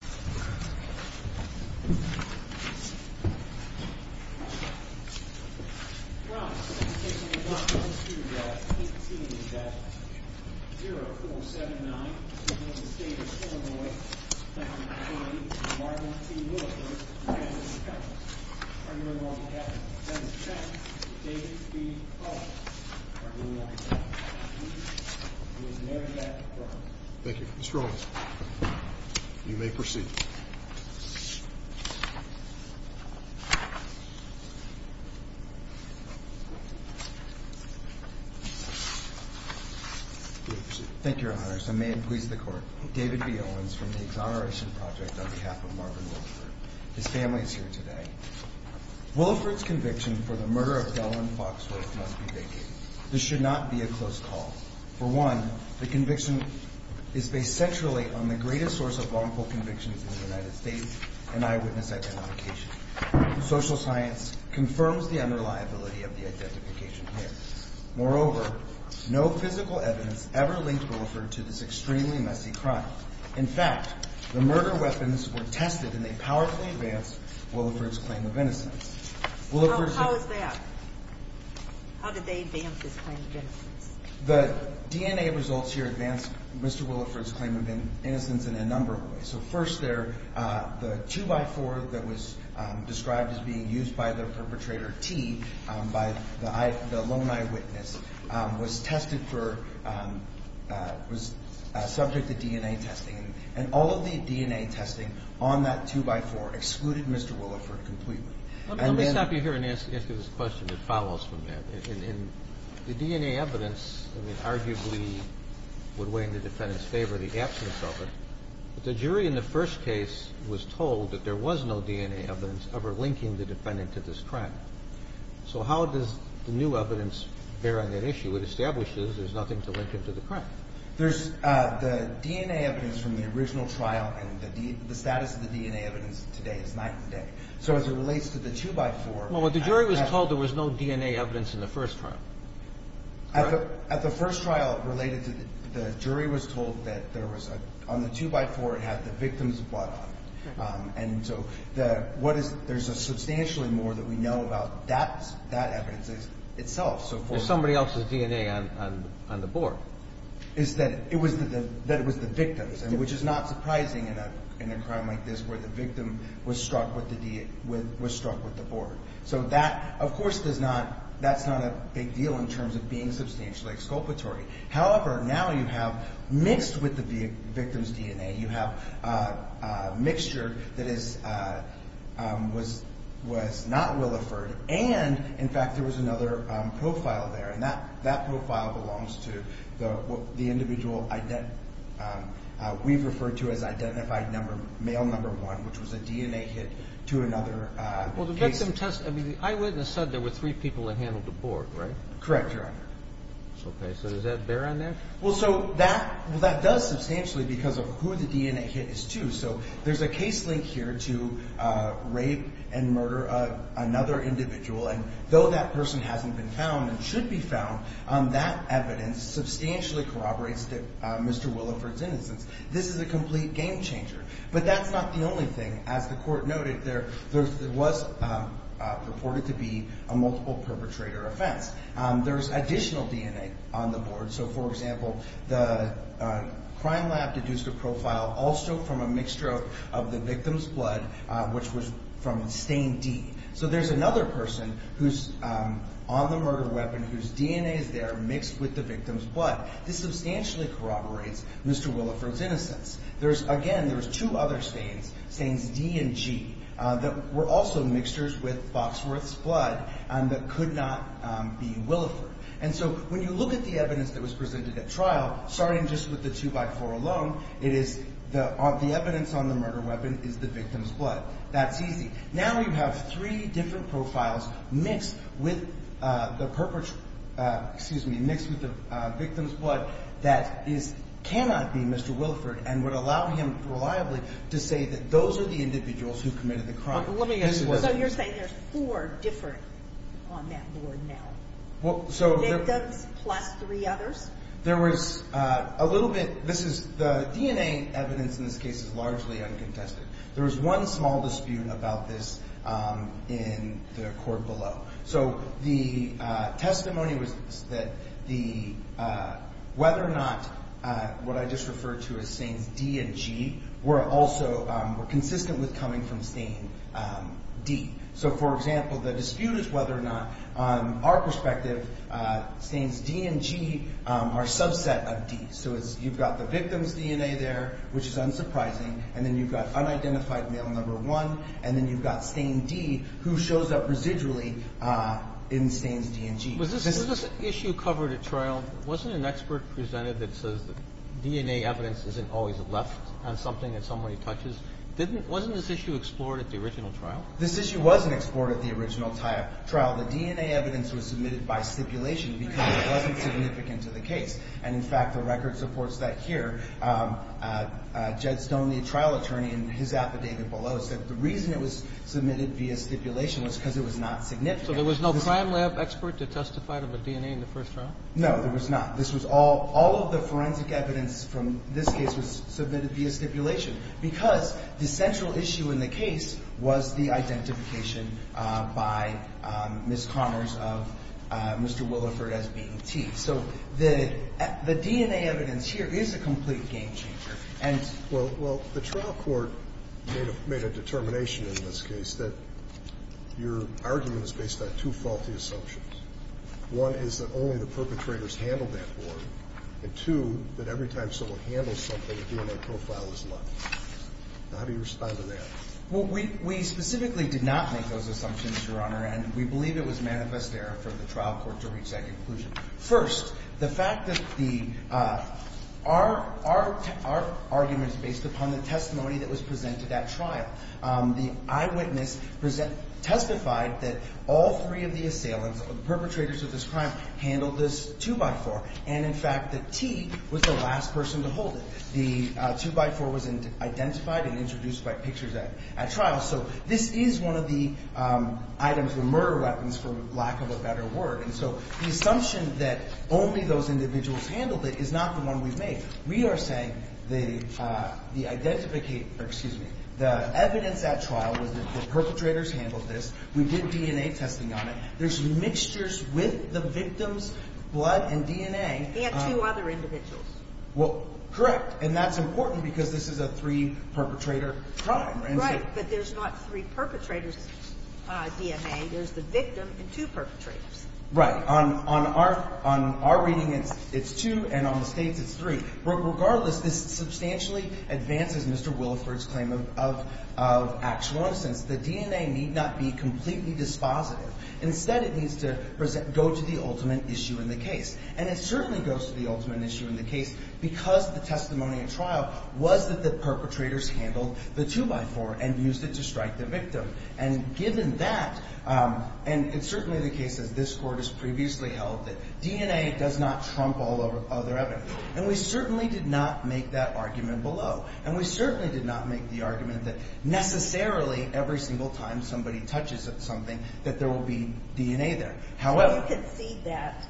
dialogues Thank you strong. You may proceed. Thank you, your honors. I may please the court. David B. Owens from the Exoneration Project on behalf of Marvin Wilford. His family is here today. Wilford's conviction for the murder of Delwyn Foxworth must be vacated. This should not be a close call. For one, the conviction is based centrally on the greatest source of wrongful convictions in the United States, an eyewitness identification. Social science confirms the unreliability of the identification here. Moreover, no physical evidence ever linked Wilford to this extremely messy crime. In fact, the murder weapons were tested and they powerfully advanced Wilford's claim of innocence. How is that? How did they advance his claim of innocence? The DNA results here advance Mr. Wilford's claim of innocence in a number of ways. So first, the two by four that was described as being used by the perpetrator, T, by the lone eyewitness, was tested for, was subject to DNA testing. And all of the DNA testing on that two by four excluded Mr. Wilford completely. Let me stop you here and ask you this question that follows from that. In the DNA evidence, I mean, arguably would weigh in the defendant's favor the absence of it, but the jury in the first case was told that there was no DNA evidence ever linking the defendant to this crime. So how does the new evidence bear on that issue? It establishes there's nothing to link him to the crime. There's the DNA evidence from the original trial and the status of the DNA evidence today is night and day. So as it relates to the two by four. Well, what the jury was told, there was no DNA evidence in the first trial. At the first trial related to the jury was told that there was on the two by four, it had the victim's blood on it. And so what is, there's a substantially more that we know about that evidence itself. There's somebody else's DNA on the board. Is that it was the victims, which is not surprising in a crime like this where the victim was struck with the board. So that, of course, does not, that's not a big deal in terms of being substantially exculpatory. However, now you have mixed with the victim's DNA, you have a mixture that is, was, was not Williford. And in fact, there was another profile there. And that, that profile belongs to the, what the individual ident, we've referred to as identified number, male number one, which was a DNA hit to another case. Some tests, I mean, the eyewitness said there were three people that handled the board, right? Correct, Your Honor. Okay. So does that bear on there? Well, so that, well, that does substantially because of who the DNA hit is too. So there's a case link here to rape and murder another individual. And though that person hasn't been found and should be found, that evidence substantially corroborates that Mr. Williford's innocence. This is a complete game changer, but that's not the only thing. As the court noted, there, there was purported to be a multiple perpetrator offense. There's additional DNA on the board. So for example, the crime lab deduced a profile, also from a mixture of the victim's blood, which was from stain D. So there's another person who's on the murder weapon, whose DNA is there mixed with the victim's blood. This substantially corroborates Mr. Williford's innocence. There's, again, there was two other stains, stains D and G, that were also mixtures with Boxworth's blood and that could not be Williford. And so when you look at the evidence that was presented at trial, starting just with the two by four alone, it is the, the evidence on the murder weapon is the victim's blood. That's easy. Now you have three different profiles mixed with the perpetrator, excuse me, mixed with the victim's blood that is, cannot be Mr. Williford and would allow him reliably to say that those are the individuals who committed the crime. Let me explain. So you're saying there's four different on that board now? Well, so... Victims plus three others? There was a little bit, this is, the DNA evidence in this case is largely uncontested. There was one small dispute about this in the court below. So the testimony was that the, whether or not what I just referred to as stains D and G were also, were consistent with coming from stain D. So for example, the dispute is whether or not, on our perspective, stains D and G are subset of D. So it's, you've got the victim's DNA there, which is unsurprising, and then you've got unidentified male number one, and then you've got stain D, who shows up residually in stains D and G. Was this, was this issue covered at the original trial? This issue wasn't explored at the original trial. The DNA evidence was submitted by stipulation because it wasn't significant to the case. And in fact, the record supports that here. Jed Stone, the trial attorney, in his affidavit below, said the reason it was submitted via stipulation was because it was not significant. So there was no crime lab expert to testify to the DNA in the first trial? No, there was not. This was all, all of the evidence in this case was submitted via stipulation because the central issue in the case was the identification by Ms. Connors of Mr. Williford as being T. So the, the DNA evidence here is a complete game changer. And Well, well, the trial court made a determination in this case that your argument is based on two faulty assumptions. One is that only the perpetrators handled that board. And two, that every time someone handles something, DNA profile is lucky. Now how do you respond to that? Well, we, we specifically did not make those assumptions, Your Honor, and we believe it was manifest error for the trial court to reach that conclusion. First, the fact that the, our, our, our argument is based upon the testimony that was presented at trial. The eyewitness present, testified that all three of the assailants, the perpetrators of this crime, handled this two by four. And in fact, the T was the last person to hold it. The two by four was identified and introduced by pictures at, at trial. So this is one of the items, the murder weapons, for lack of a better word. And so the assumption that only those individuals handled it is not the one we've made. We are saying the the identificate, or excuse me, the evidence at trial was that the perpetrators handled this. We did DNA testing on it. There's mixtures with the victim's blood and DNA. He had two other individuals. Well, correct. And that's important because this is a three perpetrator crime. Right. But there's not three perpetrators DNA. There's the victim and two perpetrators. Right. On, on our, on our reading it's, it's two and on the State's it's three. Regardless, this substantially advances Mr. Williford's claim of, of, of actual nonsense. The DNA need not be completely dispositive. Instead it needs to present, go to the ultimate issue in the case. And it certainly goes to the ultimate issue in the case because the testimony at trial was that the perpetrators handled the two by four and used it to strike the victim. And given that and it's certainly the case as this court has previously held that DNA does not trump all other evidence. And we certainly did not make that argument below. And we certainly did not make the argument that necessarily every single time somebody touches something that there will be DNA there. However. You can see that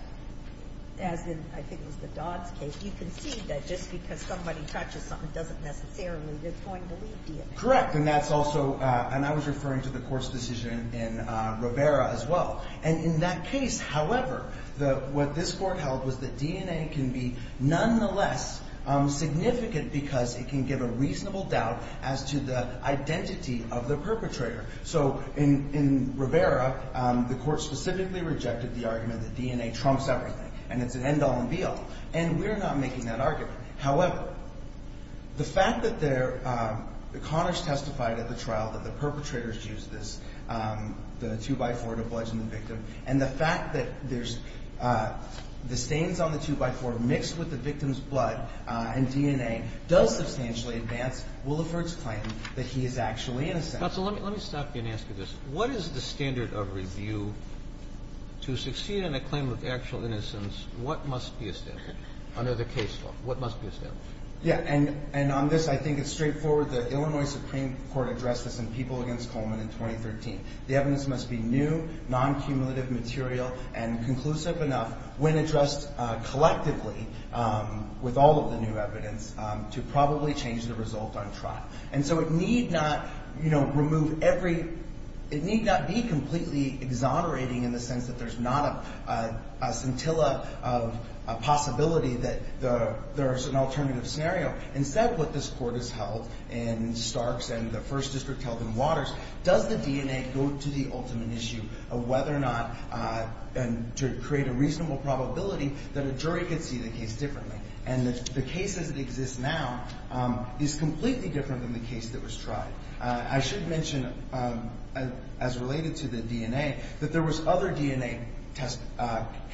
as in, I think it was the Dodds case, you can see that just because somebody touches something doesn't necessarily, they're going to leave DNA. Correct. And that's also and I was referring to the court's decision in Rivera as well. And in that case, however, the, what this court held was that DNA can be nonetheless significant because it can give a reasonable doubt as to the identity of the perpetrator. So in, in Rivera the court specifically rejected the argument that DNA trumps everything and it's an end all and be all. And we're not making that argument. However, the fact that there, that Connors testified at the trial that the perpetrators used this, the two by four to bludgeon the victim. And the fact that there's the stains on the two by four mixed with the evidence. And the fact that Wolliford's claim that he is actually innocent. Counsel, let me, let me stop you and ask you this. What is the standard of review to succeed in a claim of actual innocence? What must be established under the case law? What must be established? Yeah. And, and on this, I think it's straightforward. The Illinois Supreme Court addressed this in People Against Coleman in 2013. The evidence must be new, non-cumulative material, and conclusive enough, when addressed collectively, with all of the new evidence, to probably change the result on trial. And so it need not, you know, remove every, it need not be completely exonerating in the sense that there's not a, a scintilla of a possibility that the, there's an alternative scenario. Instead, what this court has held in Starks and the First District held in Waters, does the DNA go to the ultimate issue of whether or not, and to create a reasonable probability that a jury could see the case differently. And the case as it exists now, is completely different than the case that was tried. I should mention, as related to the DNA, that there was other DNA tests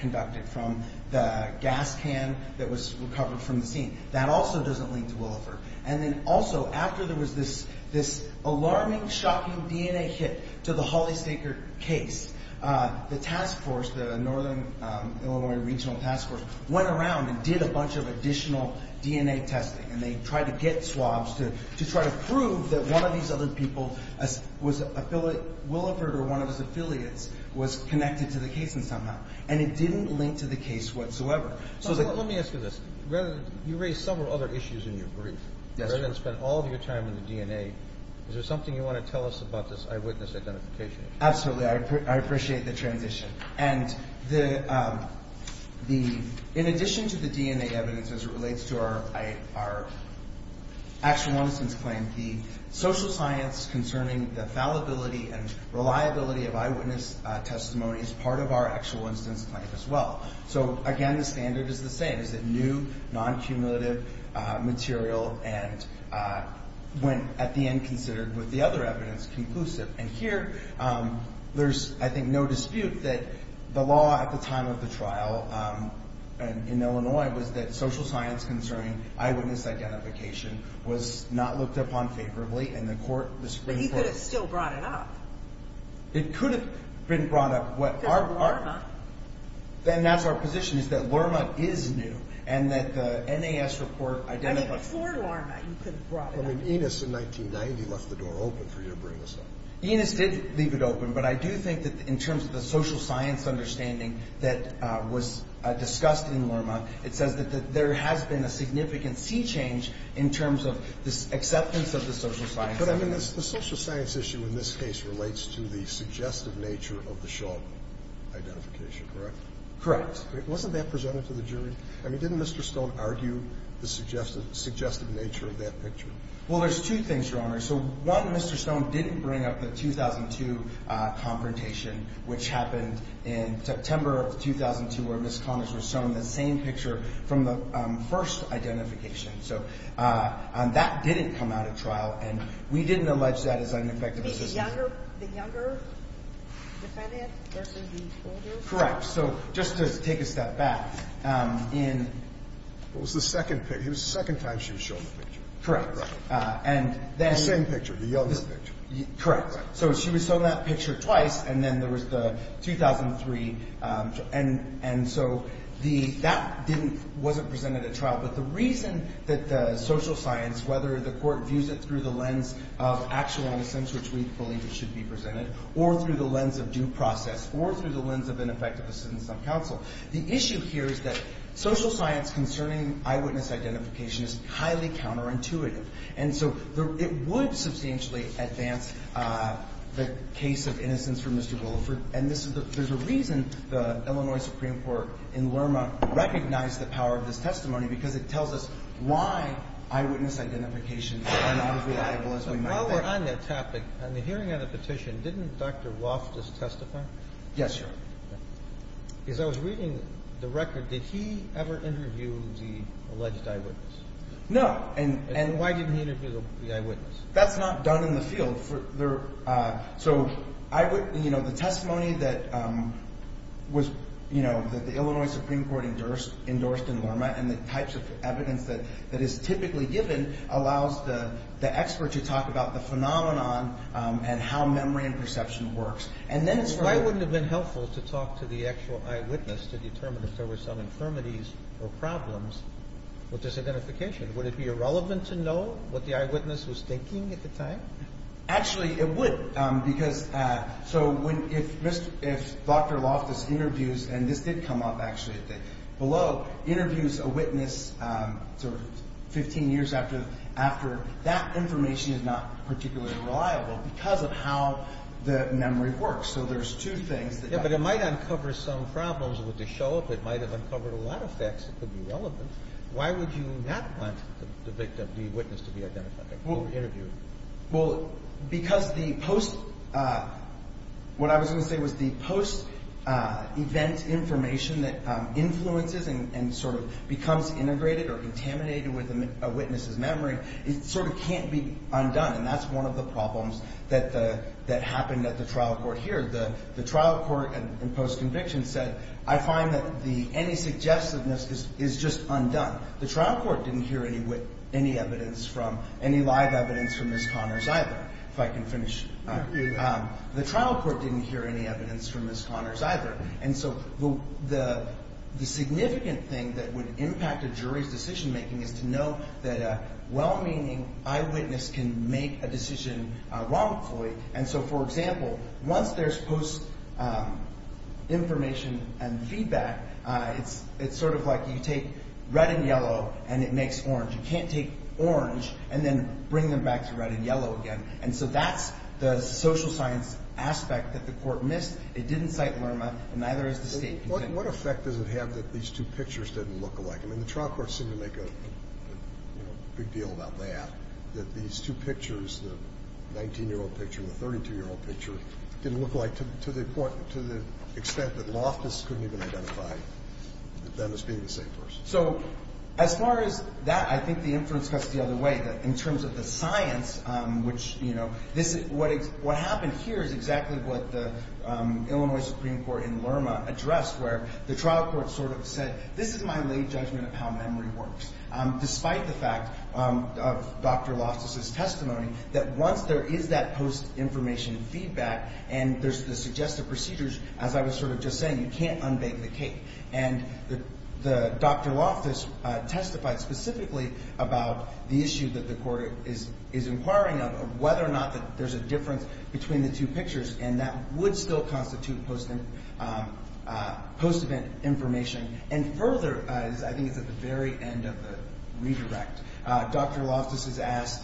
conducted from the gas can that was recovered from the scene. That also doesn't lead to Williford. And then also, after there was this, this alarming, shocking DNA hit to the Holly Staker case, the task force, the Northern Illinois Regional Task Force, went around and did a bunch of additional DNA testing. And they tried to get swabs to, to try to prove that one of these other people was, Williford or one of his affiliates was connected to the case in some way. And it didn't link to the case whatsoever. So the... Let me ask you this. Rather, you raised several other issues in your brief. Yes. Rather than spend all of your time in the DNA, is there something you want to tell us about this eyewitness identification issue? Absolutely. I appreciate the transition. And the... In addition to the DNA evidence, as it relates to our actual instance claim, the social science concerning the fallibility and reliability of eyewitness testimony is part of our actual instance claim as well. So again, the standard is the same. Is it new, non cumulative material, and when at the end considered with the other evidence, conclusive. And here, there's, I think, no dispute that the law at the time of the trial in Illinois was that social science concerning eyewitness identification was not looked upon favorably and the court was... But he could have still brought it up. It could have been brought up. Because of LRMA. And that's our position, is that LRMA is new and that the NAS report identified... I mean, before LRMA, you could have brought it up. I mean, Enos in 1990 left the door open for you to bring this up. Enos did leave it open, but I do think that in terms of the social science understanding that was discussed in LRMA, it says that there has been a significant sea change in terms of this acceptance of the social science... But I mean, the social science issue in this case relates to the suggestive nature of the Shaw identification, correct? Correct. Wasn't that presented to the jury? I mean, didn't Mr. Stone argue the suggestive nature of that picture? Well, there's two things, Your Honor. So one, Mr. Stone didn't bring up the 2002 confrontation, which happened in September of 2002, where Ms. Connors was shown the same picture from the first identification. So that didn't come out at trial and we didn't allege that as an effective... You mean the younger defendant versus the older? Correct. So just to take a step back, in... It was the second time she was shown the picture. Correct. And then... The same picture, the other picture. Correct. So she was shown that picture twice and then there was the 2003... And so that didn't... Wasn't presented at trial, but the reason that the social science, whether the court views it through the lens of actual innocence, which we believe it should be presented, or through the lens of due process, or through the lens of ineffectiveness in some counsel, the issue here is that social science concerning eyewitness identification is highly counterintuitive. And so it would substantially advance the case of innocence for Mr. Willeford. And this is the... There's a reason the Illinois Supreme Court in Lerma recognized the power of this testimony, because it tells us why eyewitness identifications are not as reliable as we might think. While we're on that topic, on the hearing of the petition, didn't Dr. Woff just testify? Yes, Your Honor. As I was reading the record, did he ever interview the alleged eyewitness? No. And why didn't he interview the eyewitness? That's not done in the field. So I would... The testimony that the Illinois Supreme Court endorsed in Lerma and the types of evidence that is typically given allows the expert to talk about the phenomenon and how memory and perception works. And then it's... Why wouldn't it have been helpful to talk to the actual eyewitness to determine if there were some infirmities or problems with this identification? Would it be irrelevant to know what the eyewitness was thinking at the time? Actually, it would, because... So if Dr. Loftus interviews... And this did come up, actually, at the below, interviews a witness 15 years after that information is not particularly reliable, because of how the memory works. So there's two things that... Yeah, but it might uncover some problems with the show. If it might have uncovered a lot of facts, it could be relevant. Why would you not want the victim, the witness, to be identified before the interview? Well, because the post... What I was gonna say was the post event information that influences and becomes integrated or contaminated with a witness's memory, it can't be undone, and that's one of the problems that happened at the trial court here. The trial court in post conviction said, I find that the... Any suggestiveness is just undone. The trial court didn't hear any evidence from... Any live evidence from Ms. Connors either, if I can finish. The trial court didn't hear any evidence from Ms. Connors either, and so the significant thing that would impact a jury's decision making is to know that a well meaning eyewitness can make a decision wrongfully. And so, for example, once there's post information and feedback, it's sort of like you take red and yellow and it makes orange. You can't take orange and then bring them back to red and yellow again. And so that's the social science aspect that the court missed. It didn't cite Lerma, and neither is the state... What effect does it have that these two pictures didn't look alike? I mean, the trial court seemed to make a big deal about that, that these two pictures, the 19 year old picture and the 32 year old picture, didn't look alike to the extent that Loftus couldn't even identify them as being the same person. So as far as that, I think the inference cuts the other way. In terms of the science, which... What happened here is exactly what the Illinois Supreme Court in Lerma addressed, where the trial court sort of said, this is my late friend, Dr. Loftus' testimony, that once there is that post information feedback and there's the suggestive procedures, as I was sort of just saying, you can't unbake the cake. And Dr. Loftus testified specifically about the issue that the court is inquiring of, whether or not that there's a difference between the two pictures, and that would still constitute post event information. And further, I think it's at the very end of the redirect, Dr. Loftus is asked,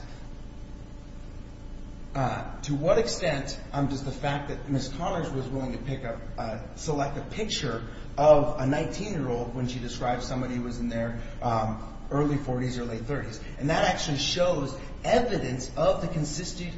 to what extent does the fact that Ms. Connors was willing to select a picture of a 19 year old when she described somebody who was in their early 40s or late 30s. And that actually shows evidence of the continued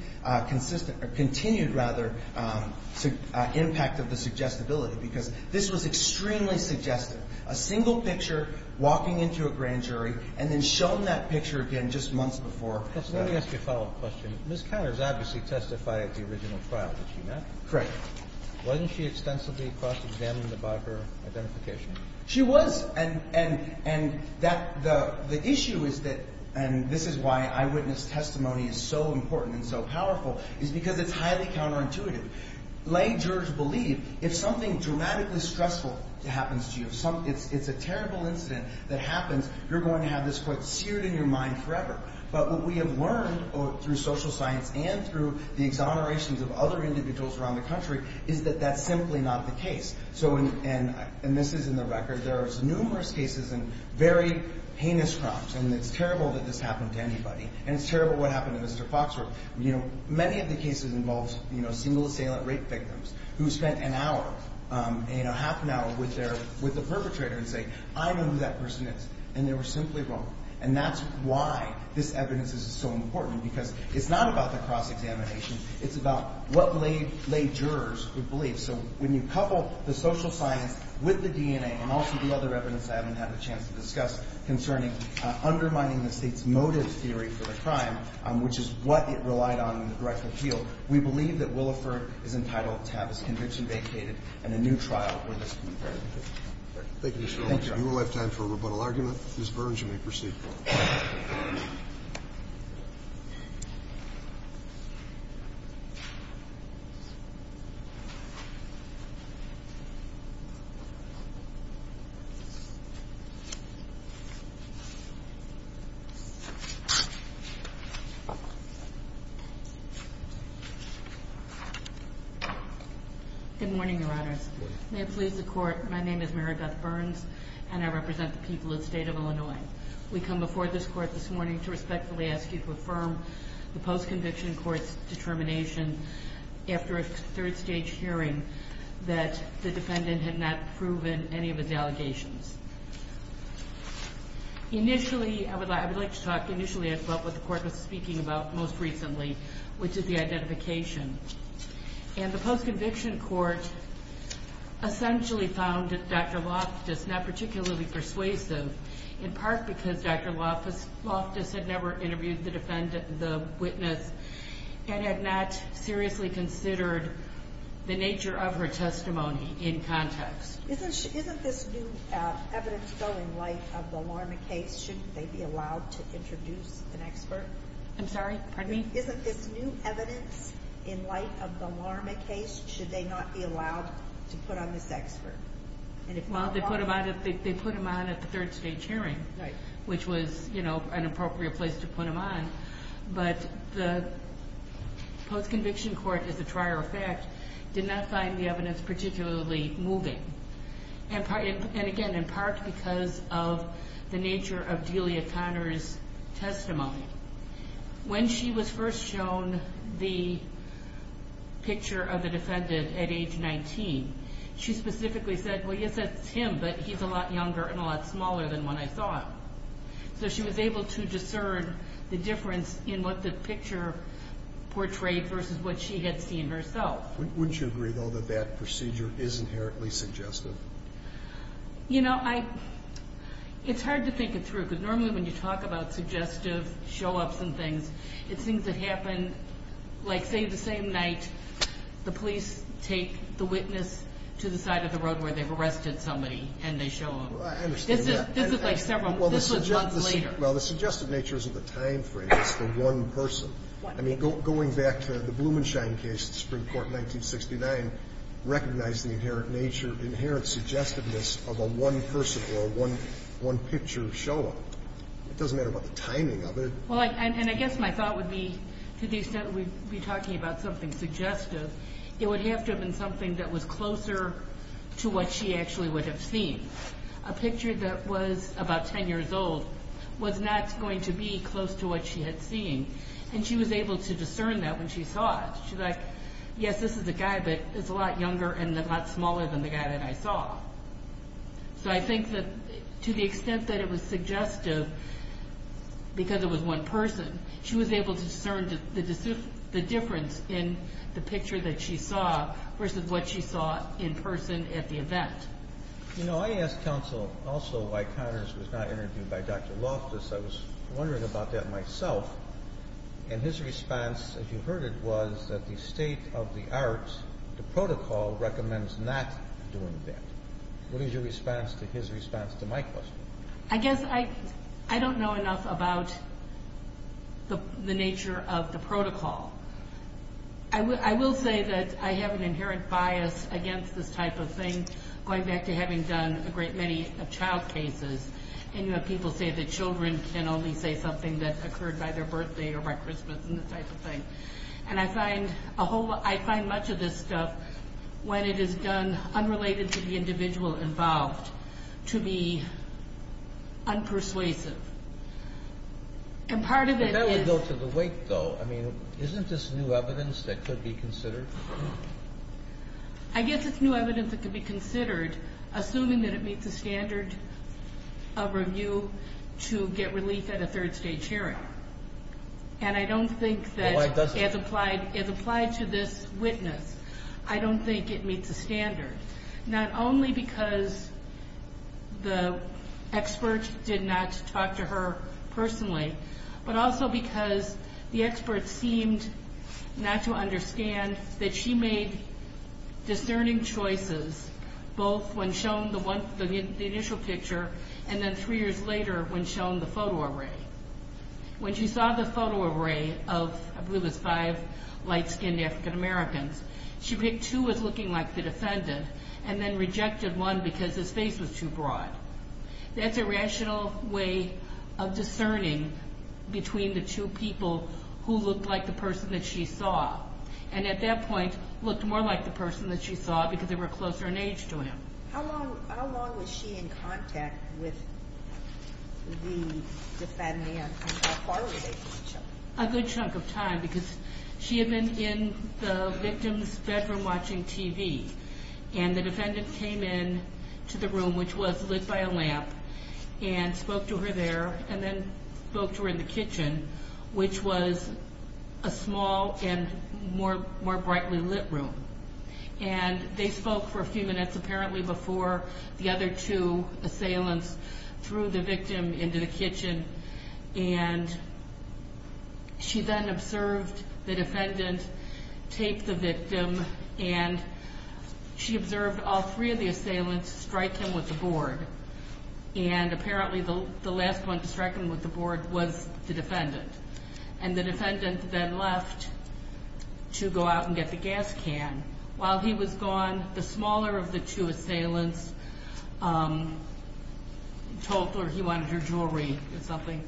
impact of the suggestibility, because this was extremely suggestive. A single picture, walking into a grand jury, and then shown that picture again just months before. Let me ask you a follow up question. Ms. Connors obviously testified at the original trial that she met. Correct. Wasn't she extensively cross examined by her identification? She was. And that... The issue is that, and this is why eyewitness testimony is so important and so powerful, is because it's highly counterintuitive. Lay jurors believe if something dramatically stressful happens to you, if it's a terrible incident that happens, you're going to have this quote seared in your mind forever. But what we have learned through social science and through the exonerations of other individuals around the country, is that that's simply not the case. And this is in the record, there's numerous cases in very heinous crimes, and it's terrible that this happened to anybody. And it's terrible what happened to Mr. Foxworth. Many of the cases involved single assailant rape victims, who spent an hour, half an hour with the perpetrator and say, I know who that person is. And they were simply wrong. And that's why this evidence is so important, because it's not about the cross examination, it's about what lay jurors would believe. So when you couple the social science with the DNA, and also the other evidence I haven't had a chance to discuss concerning undermining the state's motive theory for the crime, which is what it relied on in the direct appeal, we believe that Williford is entitled to have his conviction vacated and a new trial with us to be presented. Thank you, Mr. Olson. You will have time for a rebuttal argument. Ms. Burns, you may proceed. Good morning, Your Honors. May it please the court, my name is Marigot Burns, and I represent the people of the state of Illinois. We come before this court this morning to respectfully ask you to affirm the post conviction court's determination, after a third stage hearing, that the defendant had not proven any of his allegations. Initially, I would like to talk... Initially, I felt what the court was speaking about most recently, which is the identification. And the post conviction court essentially found Dr. Loftus not particularly persuasive, in part because Dr. Loftus had never interviewed the witness and had not seriously considered the nature of her testimony in context. Isn't this new evidence building light of the Lorman case? Shouldn't they be allowed to put on this expert? I'm sorry, pardon me? Isn't this new evidence in light of the Lorman case, should they not be allowed to put on this expert? And if not... Well, they put him on at the third stage hearing, which was an appropriate place to put him on. But the post conviction court, as a trier of fact, did not find the evidence particularly moving. And again, in part because of the nature of Delia Conner's testimony. When she was first shown the picture of the defendant at age 19, she specifically said, well, yes, that's him, but he's a lot younger and a lot smaller than when I saw him. So she was able to discern the difference in what the picture portrayed versus what she had seen herself. Wouldn't you agree though that that procedure is inherently suggestive? You know, it's hard to think it through, because normally when you talk about suggestive show ups and things, it's things that happen, like say the same night, the police take the witness to the side of the road where they've arrested somebody and they show him. I understand that. This is like several... This was months later. Well, the suggestive nature isn't the time frame, it's the one person. I mean, going back to the Blumenshine case, the Supreme Court in 1969, recognized the inherent nature, inherent suggestiveness of a one person or a one picture show up. It doesn't matter about the timing of it. Well, and I guess my thought would be, to the extent we'd be talking about something suggestive, it would have to have been something that was closer to what she actually would have seen. A picture that was about 10 years old was not going to be close to what she had seen, and she was able to discern that when she saw it. She's like, yes, this is the guy, but it's a lot younger and a lot smaller than the guy that I saw. So I think that to the extent that it was suggestive, because it was one person, she was able to discern the difference in the picture that she saw versus what she saw in person at the event. You know, I asked counsel also why Connors was not interviewed by Dr. Loftus. I was wondering about that myself. And his response, as you heard it, was that the state of the art, the protocol, recommends not doing that. What is your response to his response to my question? I guess I don't know enough about the nature of the protocol. I will say that I have an inherent bias against this type of thing, going back to having done a great many child cases, and you have people say that children can only say something that occurred by their birthday or by Christmas and this type of thing. And I find much of this stuff, when it is done unrelated to the individual involved, to be unpersuasive. And part of it is... That would go to the wake though. I mean, isn't this new evidence that could be considered? I guess it's new evidence that could be considered, assuming that it meets the standard of review to get relief at a third stage hearing. And I don't think that... Well, why doesn't it? It's applied to this witness. I don't think it meets the standard. Not only because the expert did not talk to her personally, but also because the expert seemed not to understand that she made discerning choices, both when shown the initial picture, and then three years later, when shown the photo array. When she saw the photo array of, I believe it was five light skinned African Americans, she picked two as looking like the defendant, and then rejected one because his face was too broad. That's a rational way of discerning between the two people who looked like the person that she saw, and at that point, looked more like the person that she saw because they were closer in age to him. How long was she in contact with the defendant, and how far were they from each other? A good chunk of time, because she had been in the victim's bedroom watching TV, and the defendant came in to the room, which was lit by a lamp, and spoke to her there, and then spoke to her in the kitchen, which was a small and more brightly lit room. And they spoke for a few minutes, apparently before the other two assailants threw the victim into the kitchen, and she then observed the defendant take the victim, and she observed all three of the assailants strike him with the board. And apparently, the last one to strike him with the board was the defendant, and the defendant then left to go out and get the gas can. While he was gone, the smaller of the two assailants told her he wanted her jewelry or something.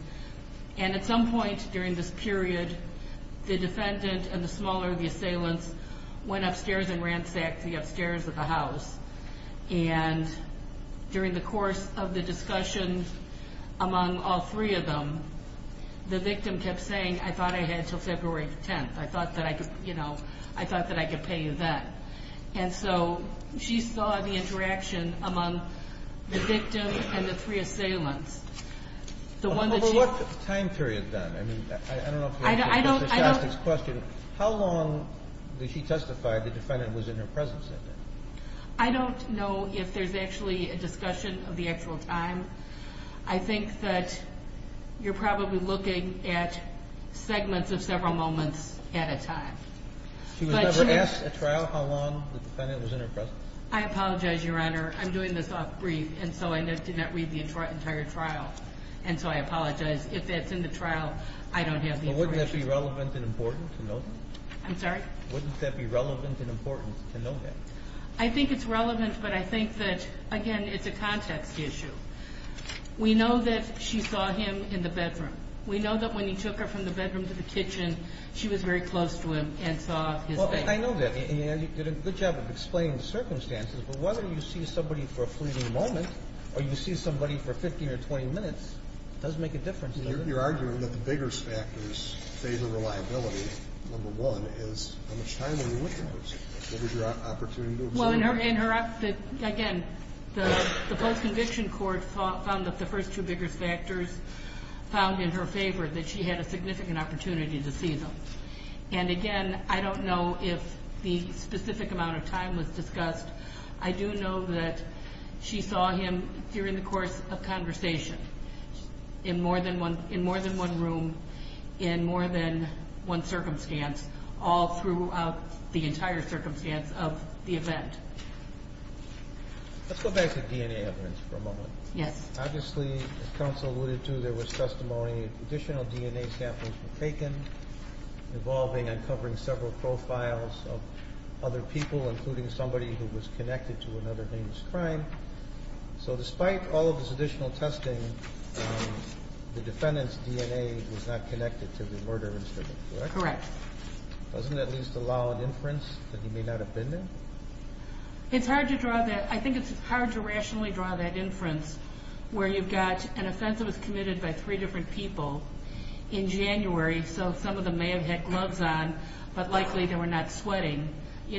And at some point during this period, the defendant and the smaller of the assailants went upstairs and ransacked the upstairs of the house. And during the course of the discussion among all three of them, the victim kept saying, I thought I had until February 10th. I thought that I could pay you then. And so she saw the interaction among the victim and the three assailants. The one that she... But what time period, then? I mean, I don't know if you're... I don't... Mr. Shostak's question, how long did she testify the defendant was in her presence at that time? I don't know if there's actually a discussion of the actual time. I think that you're probably looking at segments of several moments at a time. She was never asked at trial how long the defendant was in her presence. I apologize, Your Honor. I'm doing this off brief, and so I did not read the entire trial. And so I apologize. If that's in the trial, I don't have the information. But wouldn't that be relevant and important to know? I'm sorry? Wouldn't that be relevant and important to know that? I think it's relevant, but I think that, again, it's a context issue. We know that she saw him in the bedroom. We know that when he took her from the bedroom to the kitchen, she was very close to him and saw his face. Well, I know that. And you did a good job of explaining the circumstances. But whether you see somebody for a fleeting moment or you see somebody for 15 or 20 minutes, it doesn't make a difference, does it? You're arguing that the biggest factors favor reliability, number one, is how much time were you with those? What was your opportunity to observe? Well, in her... Again, the post-conviction court found that the first two biggest factors found in her favor, that she had a significant opportunity to see them. And again, I don't know if the specific amount of time was discussed. I do know that she saw him during the course of conversation in more than one room, in more than one circumstance, all throughout the entire circumstance of the event. Let's go back to DNA evidence for a moment. Yes. Obviously, as counsel alluded to, there was testimony, additional DNA samples were taken involving uncovering several profiles of other people, including somebody who was connected to another man's crime. So despite all of this additional testing, the defendant's DNA was not connected to the murder incident, correct? Correct. Doesn't that at least allow an inference that he may not have been there? It's hard to draw that... I think it's hard to draw that inference where you've got an offense that was committed by three different people in January, so some of them may have had gloves on, but likely they were not sweating.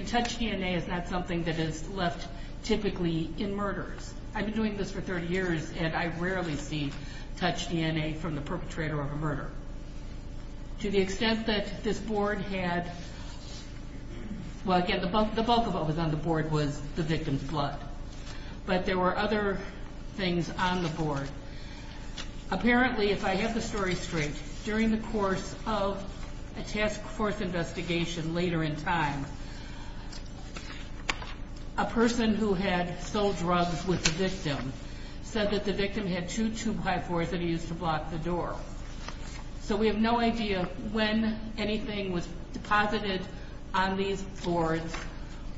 Touched DNA is not something that is left typically in murders. I've been doing this for 30 years and I rarely see touched DNA from the perpetrator of a murder. To the extent that this board had... Well, again, the bulk of what was on the board was the victim's blood, but there were other things on the board. Apparently, if I get the story straight, during the course of a task force investigation later in time, a person who had sold drugs with the victim said that the victim had two 2x4s that he used to block the door. So we have no idea when anything was deposited on these boards,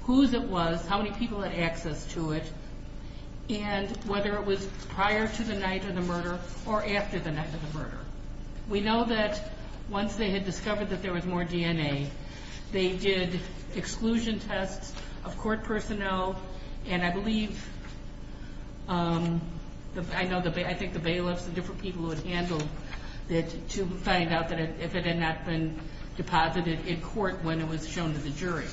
whose it was, how many people had access to it, and whether it was prior to the night of the murder or after the night of the murder. We know that once they had discovered that there was more DNA, they did exclusion tests of court personnel, and I believe... I think the bailiffs and different people who had handled it to find out that if it had not been deposited in court when it was shown to the jury.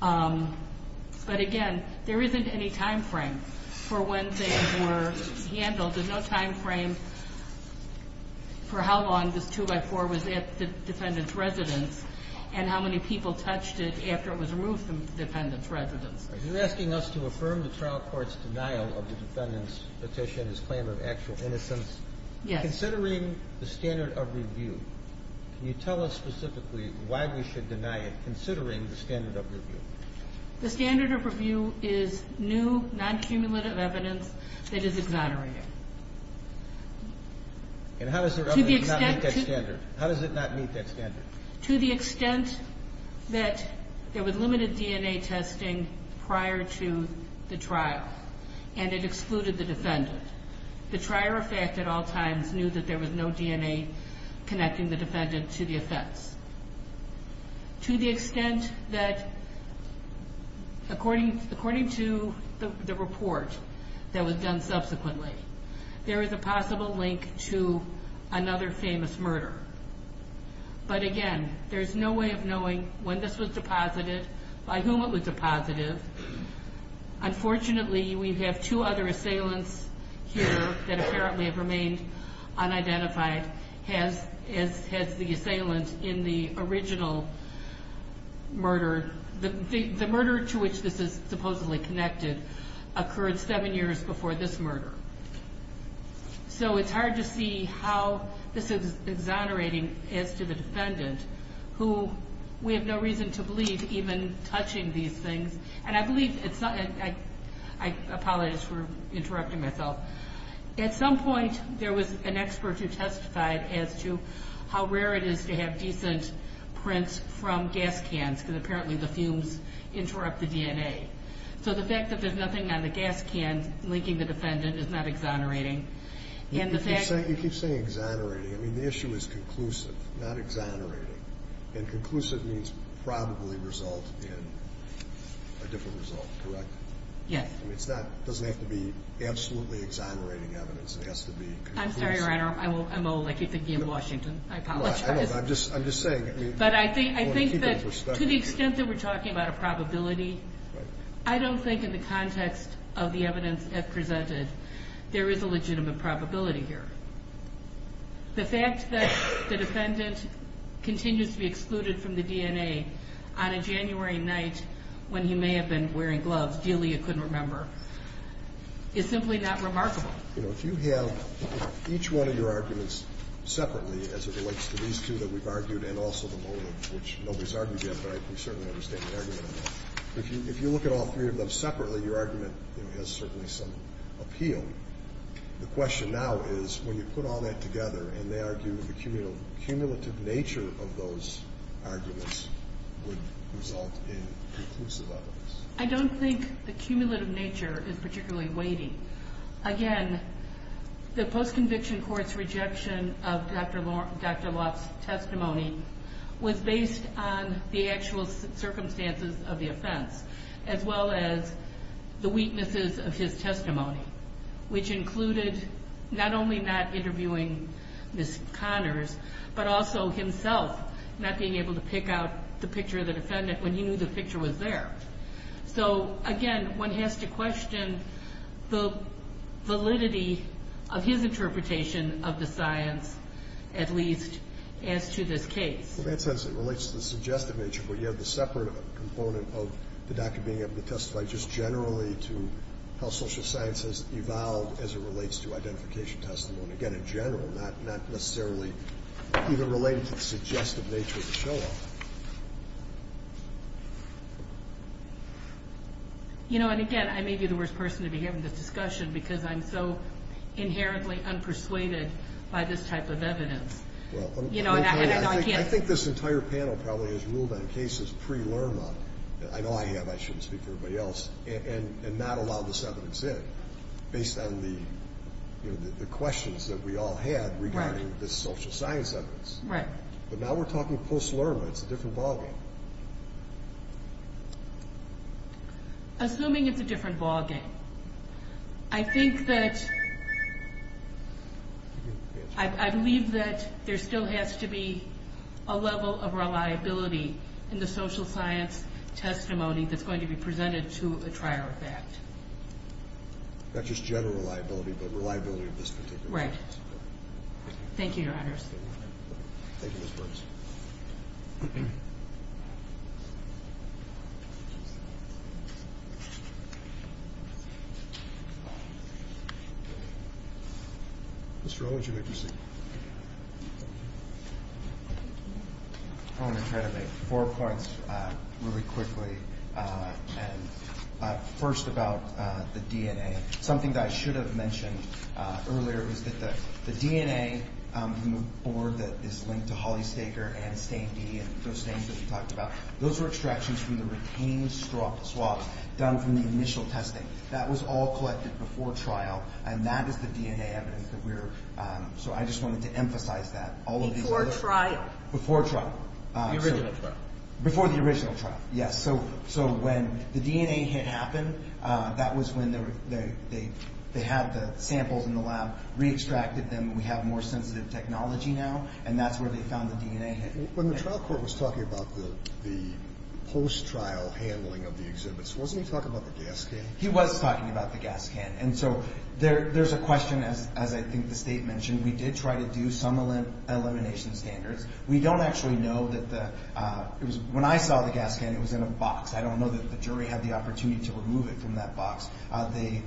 But again, there isn't any time frame for when they were handled. There's no time frame for how long this 2x4 was at the defendant's residence, and how many people touched it after it was removed from the defendant's residence. You're asking us to affirm the trial court's denial of the defendant's petition, his claim of actual innocence. Yes. Considering the standard of review, can you tell us specifically why we should deny it, considering the standard of review? The standard of review is new, non cumulative evidence that is exonerating. And how does it not meet that standard? How does it not meet that standard? To the extent that there was limited DNA testing prior to the trial, and it excluded the defendant. The trier of fact at all times knew that there was no DNA connecting the defendant to the offense. To the extent that, according to the report that was done subsequently, there is a possible link to another famous murder. But again, there's no way of knowing when this was deposited, by whom it was deposited. Unfortunately, we have two other cases. One has the assailant in the original murder. The murder to which this is supposedly connected, occurred seven years before this murder. So it's hard to see how this is exonerating as to the defendant, who we have no reason to believe even touching these things. And I believe it's not... I apologize for interrupting myself. At some point, there was an expert who testified as to how rare it is to have decent prints from gas cans, because apparently the fumes interrupt the DNA. So the fact that there's nothing on the gas can linking the defendant is not exonerating. And the fact... You keep saying exonerating. I mean, the issue is conclusive, not exonerating. And conclusive means probably result in a different result, correct? Yes. It's not... It doesn't have to be absolutely exonerating evidence. It has to be conclusive. I'm sorry, Your Honor. I'm old. I keep thinking of Washington. I apologize. I'm just saying... But I think that to the extent that we're talking about a probability, I don't think in the context of the evidence presented, there is a legitimate probability here. The fact that the defendant continues to be excluded from the DNA on a January night when he may have been wearing gloves, a deal you couldn't remember, is simply not remarkable. You know, if you have each one of your arguments separately, as it relates to these two that we've argued and also the motive, which nobody's argued yet, but we certainly understand the argument. If you look at all three of them separately, your argument has certainly some appeal. The question now is when you put all that together and they argue the cumulative nature of those arguments would result in conclusive evidence. I don't think the cumulative nature is particularly weighty. Again, the post conviction court's rejection of Dr. Loft's testimony was based on the actual circumstances of the offense, as well as the weaknesses of his testimony, which included not only not interviewing Ms. Connors, but also himself not being able to pick out the picture of the defendant when he knew the picture was there. So again, one has to question the validity of his interpretation of the science, at least as to this case. In that sense, it relates to the suggestive nature, but you have the separate component of the doctor being able to testify just generally to how social science has evolved as it relates to identification testimony. Again, in general, not necessarily either related to the suggestive nature of the case. And again, I may be the worst person to be having this discussion because I'm so inherently unpersuaded by this type of evidence. I think this entire panel probably has ruled on cases pre-LURMA, I know I have, I shouldn't speak for everybody else, and not allowed this evidence in based on the questions that we all had regarding this social science evidence. But now we're talking post-LURMA, it's a different ballgame. Assuming it's a different ballgame, I think that, I believe that there still has to be a level of reliability in the social science testimony that's going to be presented to a trier of fact. Not just general reliability, but reliability of this particular case. Right. Thank you, Your Honors. Thank you, Ms. Brooks. Mr. O, would you like to speak? I wanna try to make four points really quickly. And first about the DNA. Something that I should have mentioned earlier was that the DNA on the board that is linked to Holly Staker and Stain D and those things that you talked about, those were extractions from the retained swab done from the initial testing. That was all collected before trial, and that is the DNA evidence that we're... So I just wanted to emphasize that. Before trial. Before trial. The original trial. Before the original trial, yes. So when the DNA hit happen, that was when they had the samples in the lab, re extracted them, we have more sensitive technology now, and that's where they found the DNA. When the trial court was talking about the post trial handling of the exhibits, wasn't he talking about the gas can? He was talking about the gas can. And so there's a question, as I think the state mentioned, we did try to do some elimination standards. We don't actually know that the... When I saw the gas can, it was in a box. I don't know that the jury had the opportunity to remove it from that box. The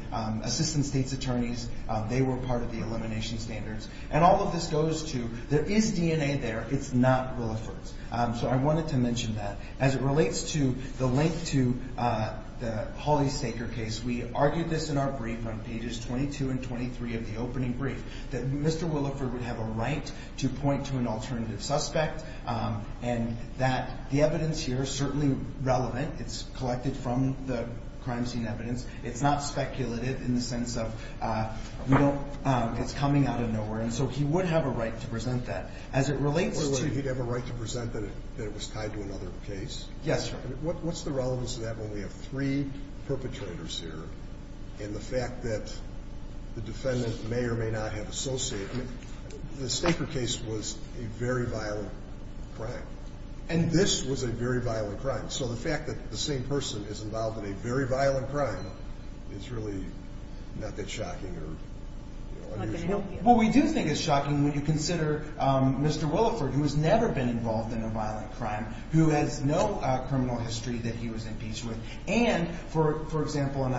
assistant state's attorneys, they were part of the elimination standards. And all of this goes to, there is DNA there, it's not Williford's. So I wanted to mention that. As it relates to the link to the Holly Staker case, we argued this in our brief on pages 22 and 23 of the opening brief, that Mr. Williford would have a right to point to an alternative suspect, and that the evidence here is certainly relevant. It's collected from the crime scene evidence. It's not speculative in the way that it's coming out of nowhere. And so he would have a right to present that. As it relates to... Wait, wait, wait. He'd have a right to present that it was tied to another case? Yes, sir. What's the relevance of that when we have three perpetrators here, and the fact that the defendant may or may not have associated... The Staker case was a very violent crime. And this was a very violent crime. So the fact that the same person is involved in a very violent crime is really not that shocking or unusual. Well, we do think it's shocking when you consider Mr. Williford, who has never been involved in a violent crime, who has no criminal history that he was impeached with. And, for example,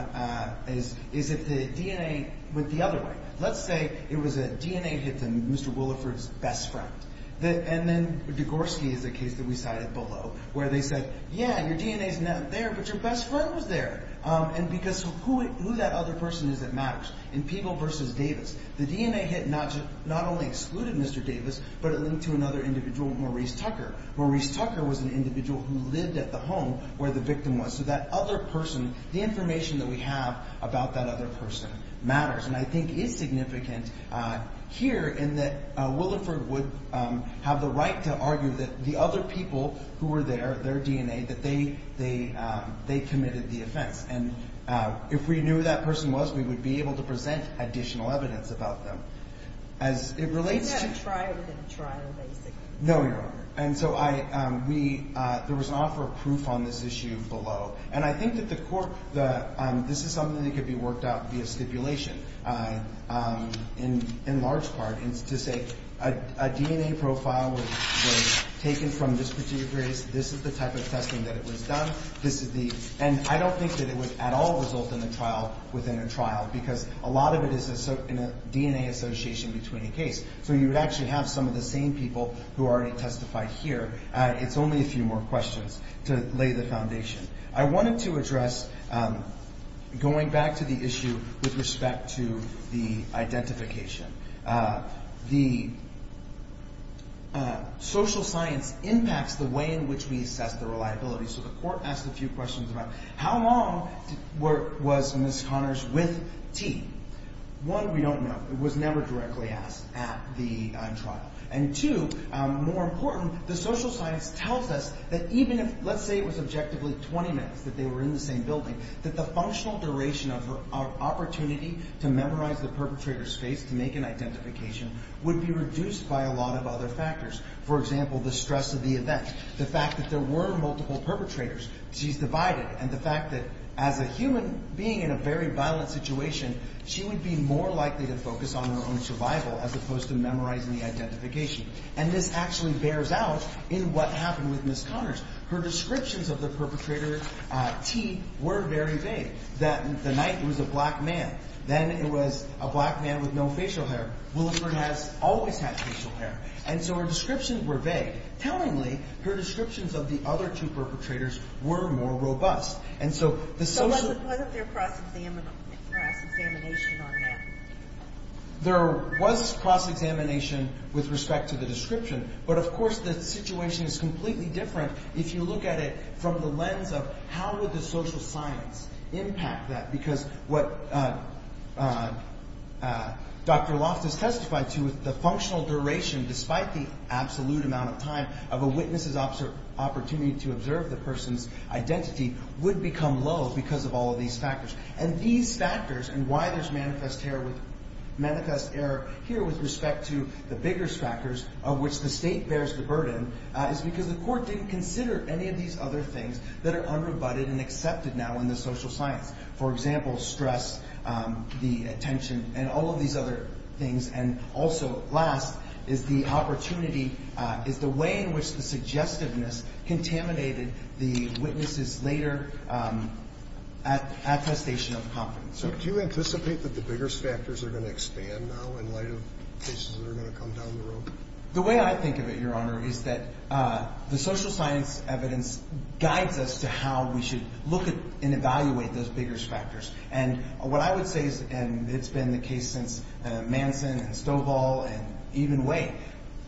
is if the DNA went the other way. Let's say it was a DNA hit to Mr. Williford's best friend. And then Degorski is a case that we cited below, where they said, yeah, your DNA's not there, but your best friend was there. And because who that other person is that matters. In Peeble versus Davis, the DNA hit not only excluded Mr. Davis, but it linked to another individual, Maurice Tucker. Maurice Tucker was an individual who lived at the home where the victim was. So that other person, the information that we have about that other person matters, and I think is significant here, in that Williford would have the right to argue that the other people who were there, their DNA, that they committed the offense. And if we knew who that person was, we would be able to present additional evidence about them. As it relates to... Is that a trial within a trial, basically? No, Your Honor. And so there was an offer of proof on this issue below. And I think that the court... This is something that could be worked out via stipulation, in large part, to say a DNA profile was taken from this particular case, this is the type of testing that it was done, this is the... And I don't think that it would at all result in a trial within a trial, because a lot of it is in a DNA association between a case. So you would actually have some of the same people who already testified here. It's only a few more questions to lay the facts to the identification. The social science impacts the way in which we assess the reliability. So the court asked a few questions about how long was Ms. Connors with T? One, we don't know. It was never directly asked at the trial. And two, more important, the social science tells us that even if, let's say it was objectively 20 minutes that they were in the same building, that the functional duration of opportunity to memorize the perpetrator's face to make an identification would be reduced by a lot of other factors. For example, the stress of the event, the fact that there were multiple perpetrators, she's divided, and the fact that as a human being in a very violent situation, she would be more likely to focus on her own survival as opposed to memorizing the identification. And this actually bears out in what happened with Ms. Connors. Her descriptions of the perpetrator, T, were very vague. That the night it was a black man, then it was a black man with no facial hair. Willingford has always had facial hair. And so her descriptions were vague. Tellingly, her descriptions of the other two perpetrators were more robust. And so the social... So wasn't there cross examination on that? There was cross examination with respect to the description. But of course, the situation is completely different if you look at it from the lens of how would the social science impact that? Because what Dr. Loftus testified to, the functional duration, despite the absolute amount of time of a witness's opportunity to observe the person's identity, would become low because of all of these factors. And these factors, and why there's manifest error here with respect to the biggest factors of which the state bears the burden, is because the court didn't consider any of these other things that are unrebutted and accepted now in the social science. For example, stress, the attention, and all of these other things. And also, last, is the opportunity, is the way in which the suggestiveness contaminated the witnesses' later attestation of confidence. So do you anticipate that the biggest factors are gonna expand now in light of cases that are gonna come down the road? The way I think of it, Your Honor, is that the social science evidence guides us to how we should look at and evaluate those biggest factors. And what I would say, and it's been the case since Manson and Stovall and even Waite,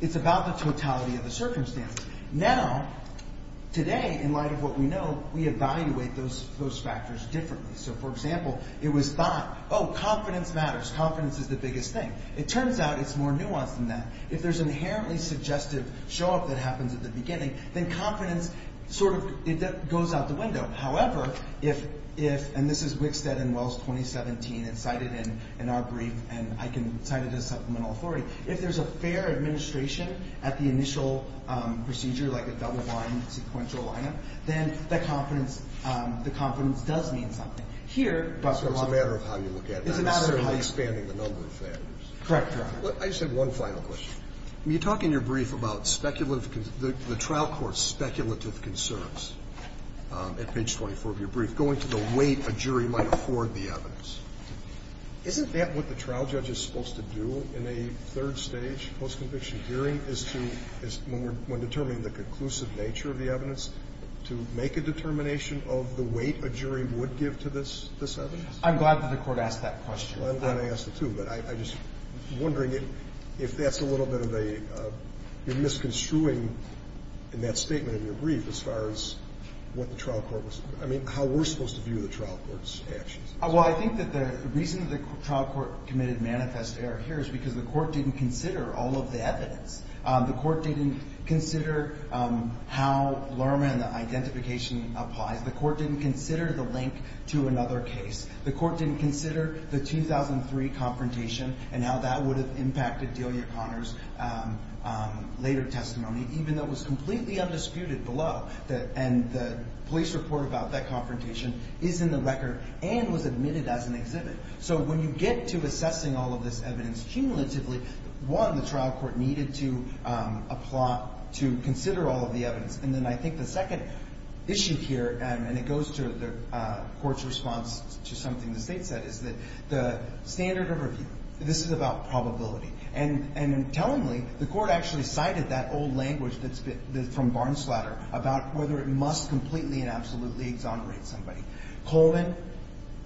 it's about the totality of the circumstance. Now, today, in light of what we know, we evaluate those factors differently. So for example, it was thought, Oh, confidence matters. Confidence is the biggest thing. It turns out it's more nuanced than that. If there's inherently suggestive show up that happens at the beginning, then confidence sort of goes out the window. However, if... And this is Wickstead and Wells, 2017, it's cited in our brief, and I can cite it as supplemental authority. If there's a fair administration at the initial procedure, like a double line, sequential line up, then the confidence does mean something. Here... So it's a matter of how you look at it. It's a matter of how you... Not necessarily expanding the number of factors. Correct, Your Honor. I just have one final question. You talk in your brief about speculative... The trial court's speculative concerns at page 24 of your brief, going to the weight a jury might afford the evidence. Isn't that what the trial judge is supposed to do in a third-stage post-conviction hearing, is to, when determining the conclusive nature of the evidence, to make a determination of the weight a jury would give to this evidence? I'm glad that the Court asked that question. Well, I'm glad I asked it, too, but I'm just wondering if that's a little bit of a... You're misconstruing in that statement in your brief as far as what the trial court was... I mean, how we're supposed to view the trial court's actions. Well, I think that the reason that the trial court committed manifest error here is because the court didn't consider all of the evidence. The court didn't consider how Lerman identification applies. The court didn't consider the link to another case. The court didn't consider the 2003 confrontation and how that would have impacted Delia Connors later testimony, even though it was completely undisputed below. And the police report about that confrontation is in the record and was admitted as an exhibit. So when you get to assessing all of this evidence cumulatively, one, the trial court needed to consider all of the evidence. And then I think the second issue here, and it goes to the court's response to something the State said, is that the standard of review, this is about probability. And tellingly, the court actually cited that old language that's been... From Barnes-Slatter about whether it must completely and absolutely exonerate somebody. Coleman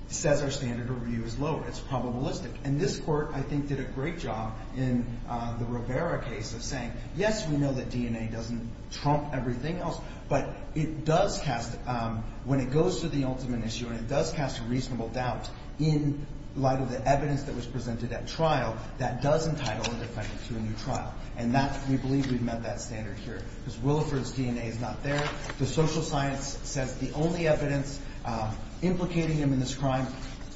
says our standard of review is low, it's probabilistic. And this court, I think, did a great job in the Rivera case of saying, yes, we know that DNA doesn't trump everything else, but it does cast... When it goes to the ultimate issue, when it does cast a reasonable doubt in light of the evidence that was presented at trial, that does entitle a defendant to a new trial. And that, we believe we've met that standard here. Because Williford's DNA is not there. The social science says the only evidence implicating him in this crime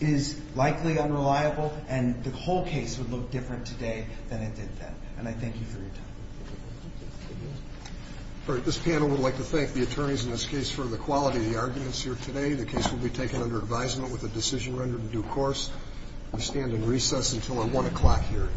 is likely unreliable, and the whole case would look different today than it did then. And I thank you for your time. All right. This panel would like to thank the attorneys in this case for the quality of the arguments here today. The case will be taken under advisement with a decision rendered in due course. We stand in recess until our one o'clock hearing.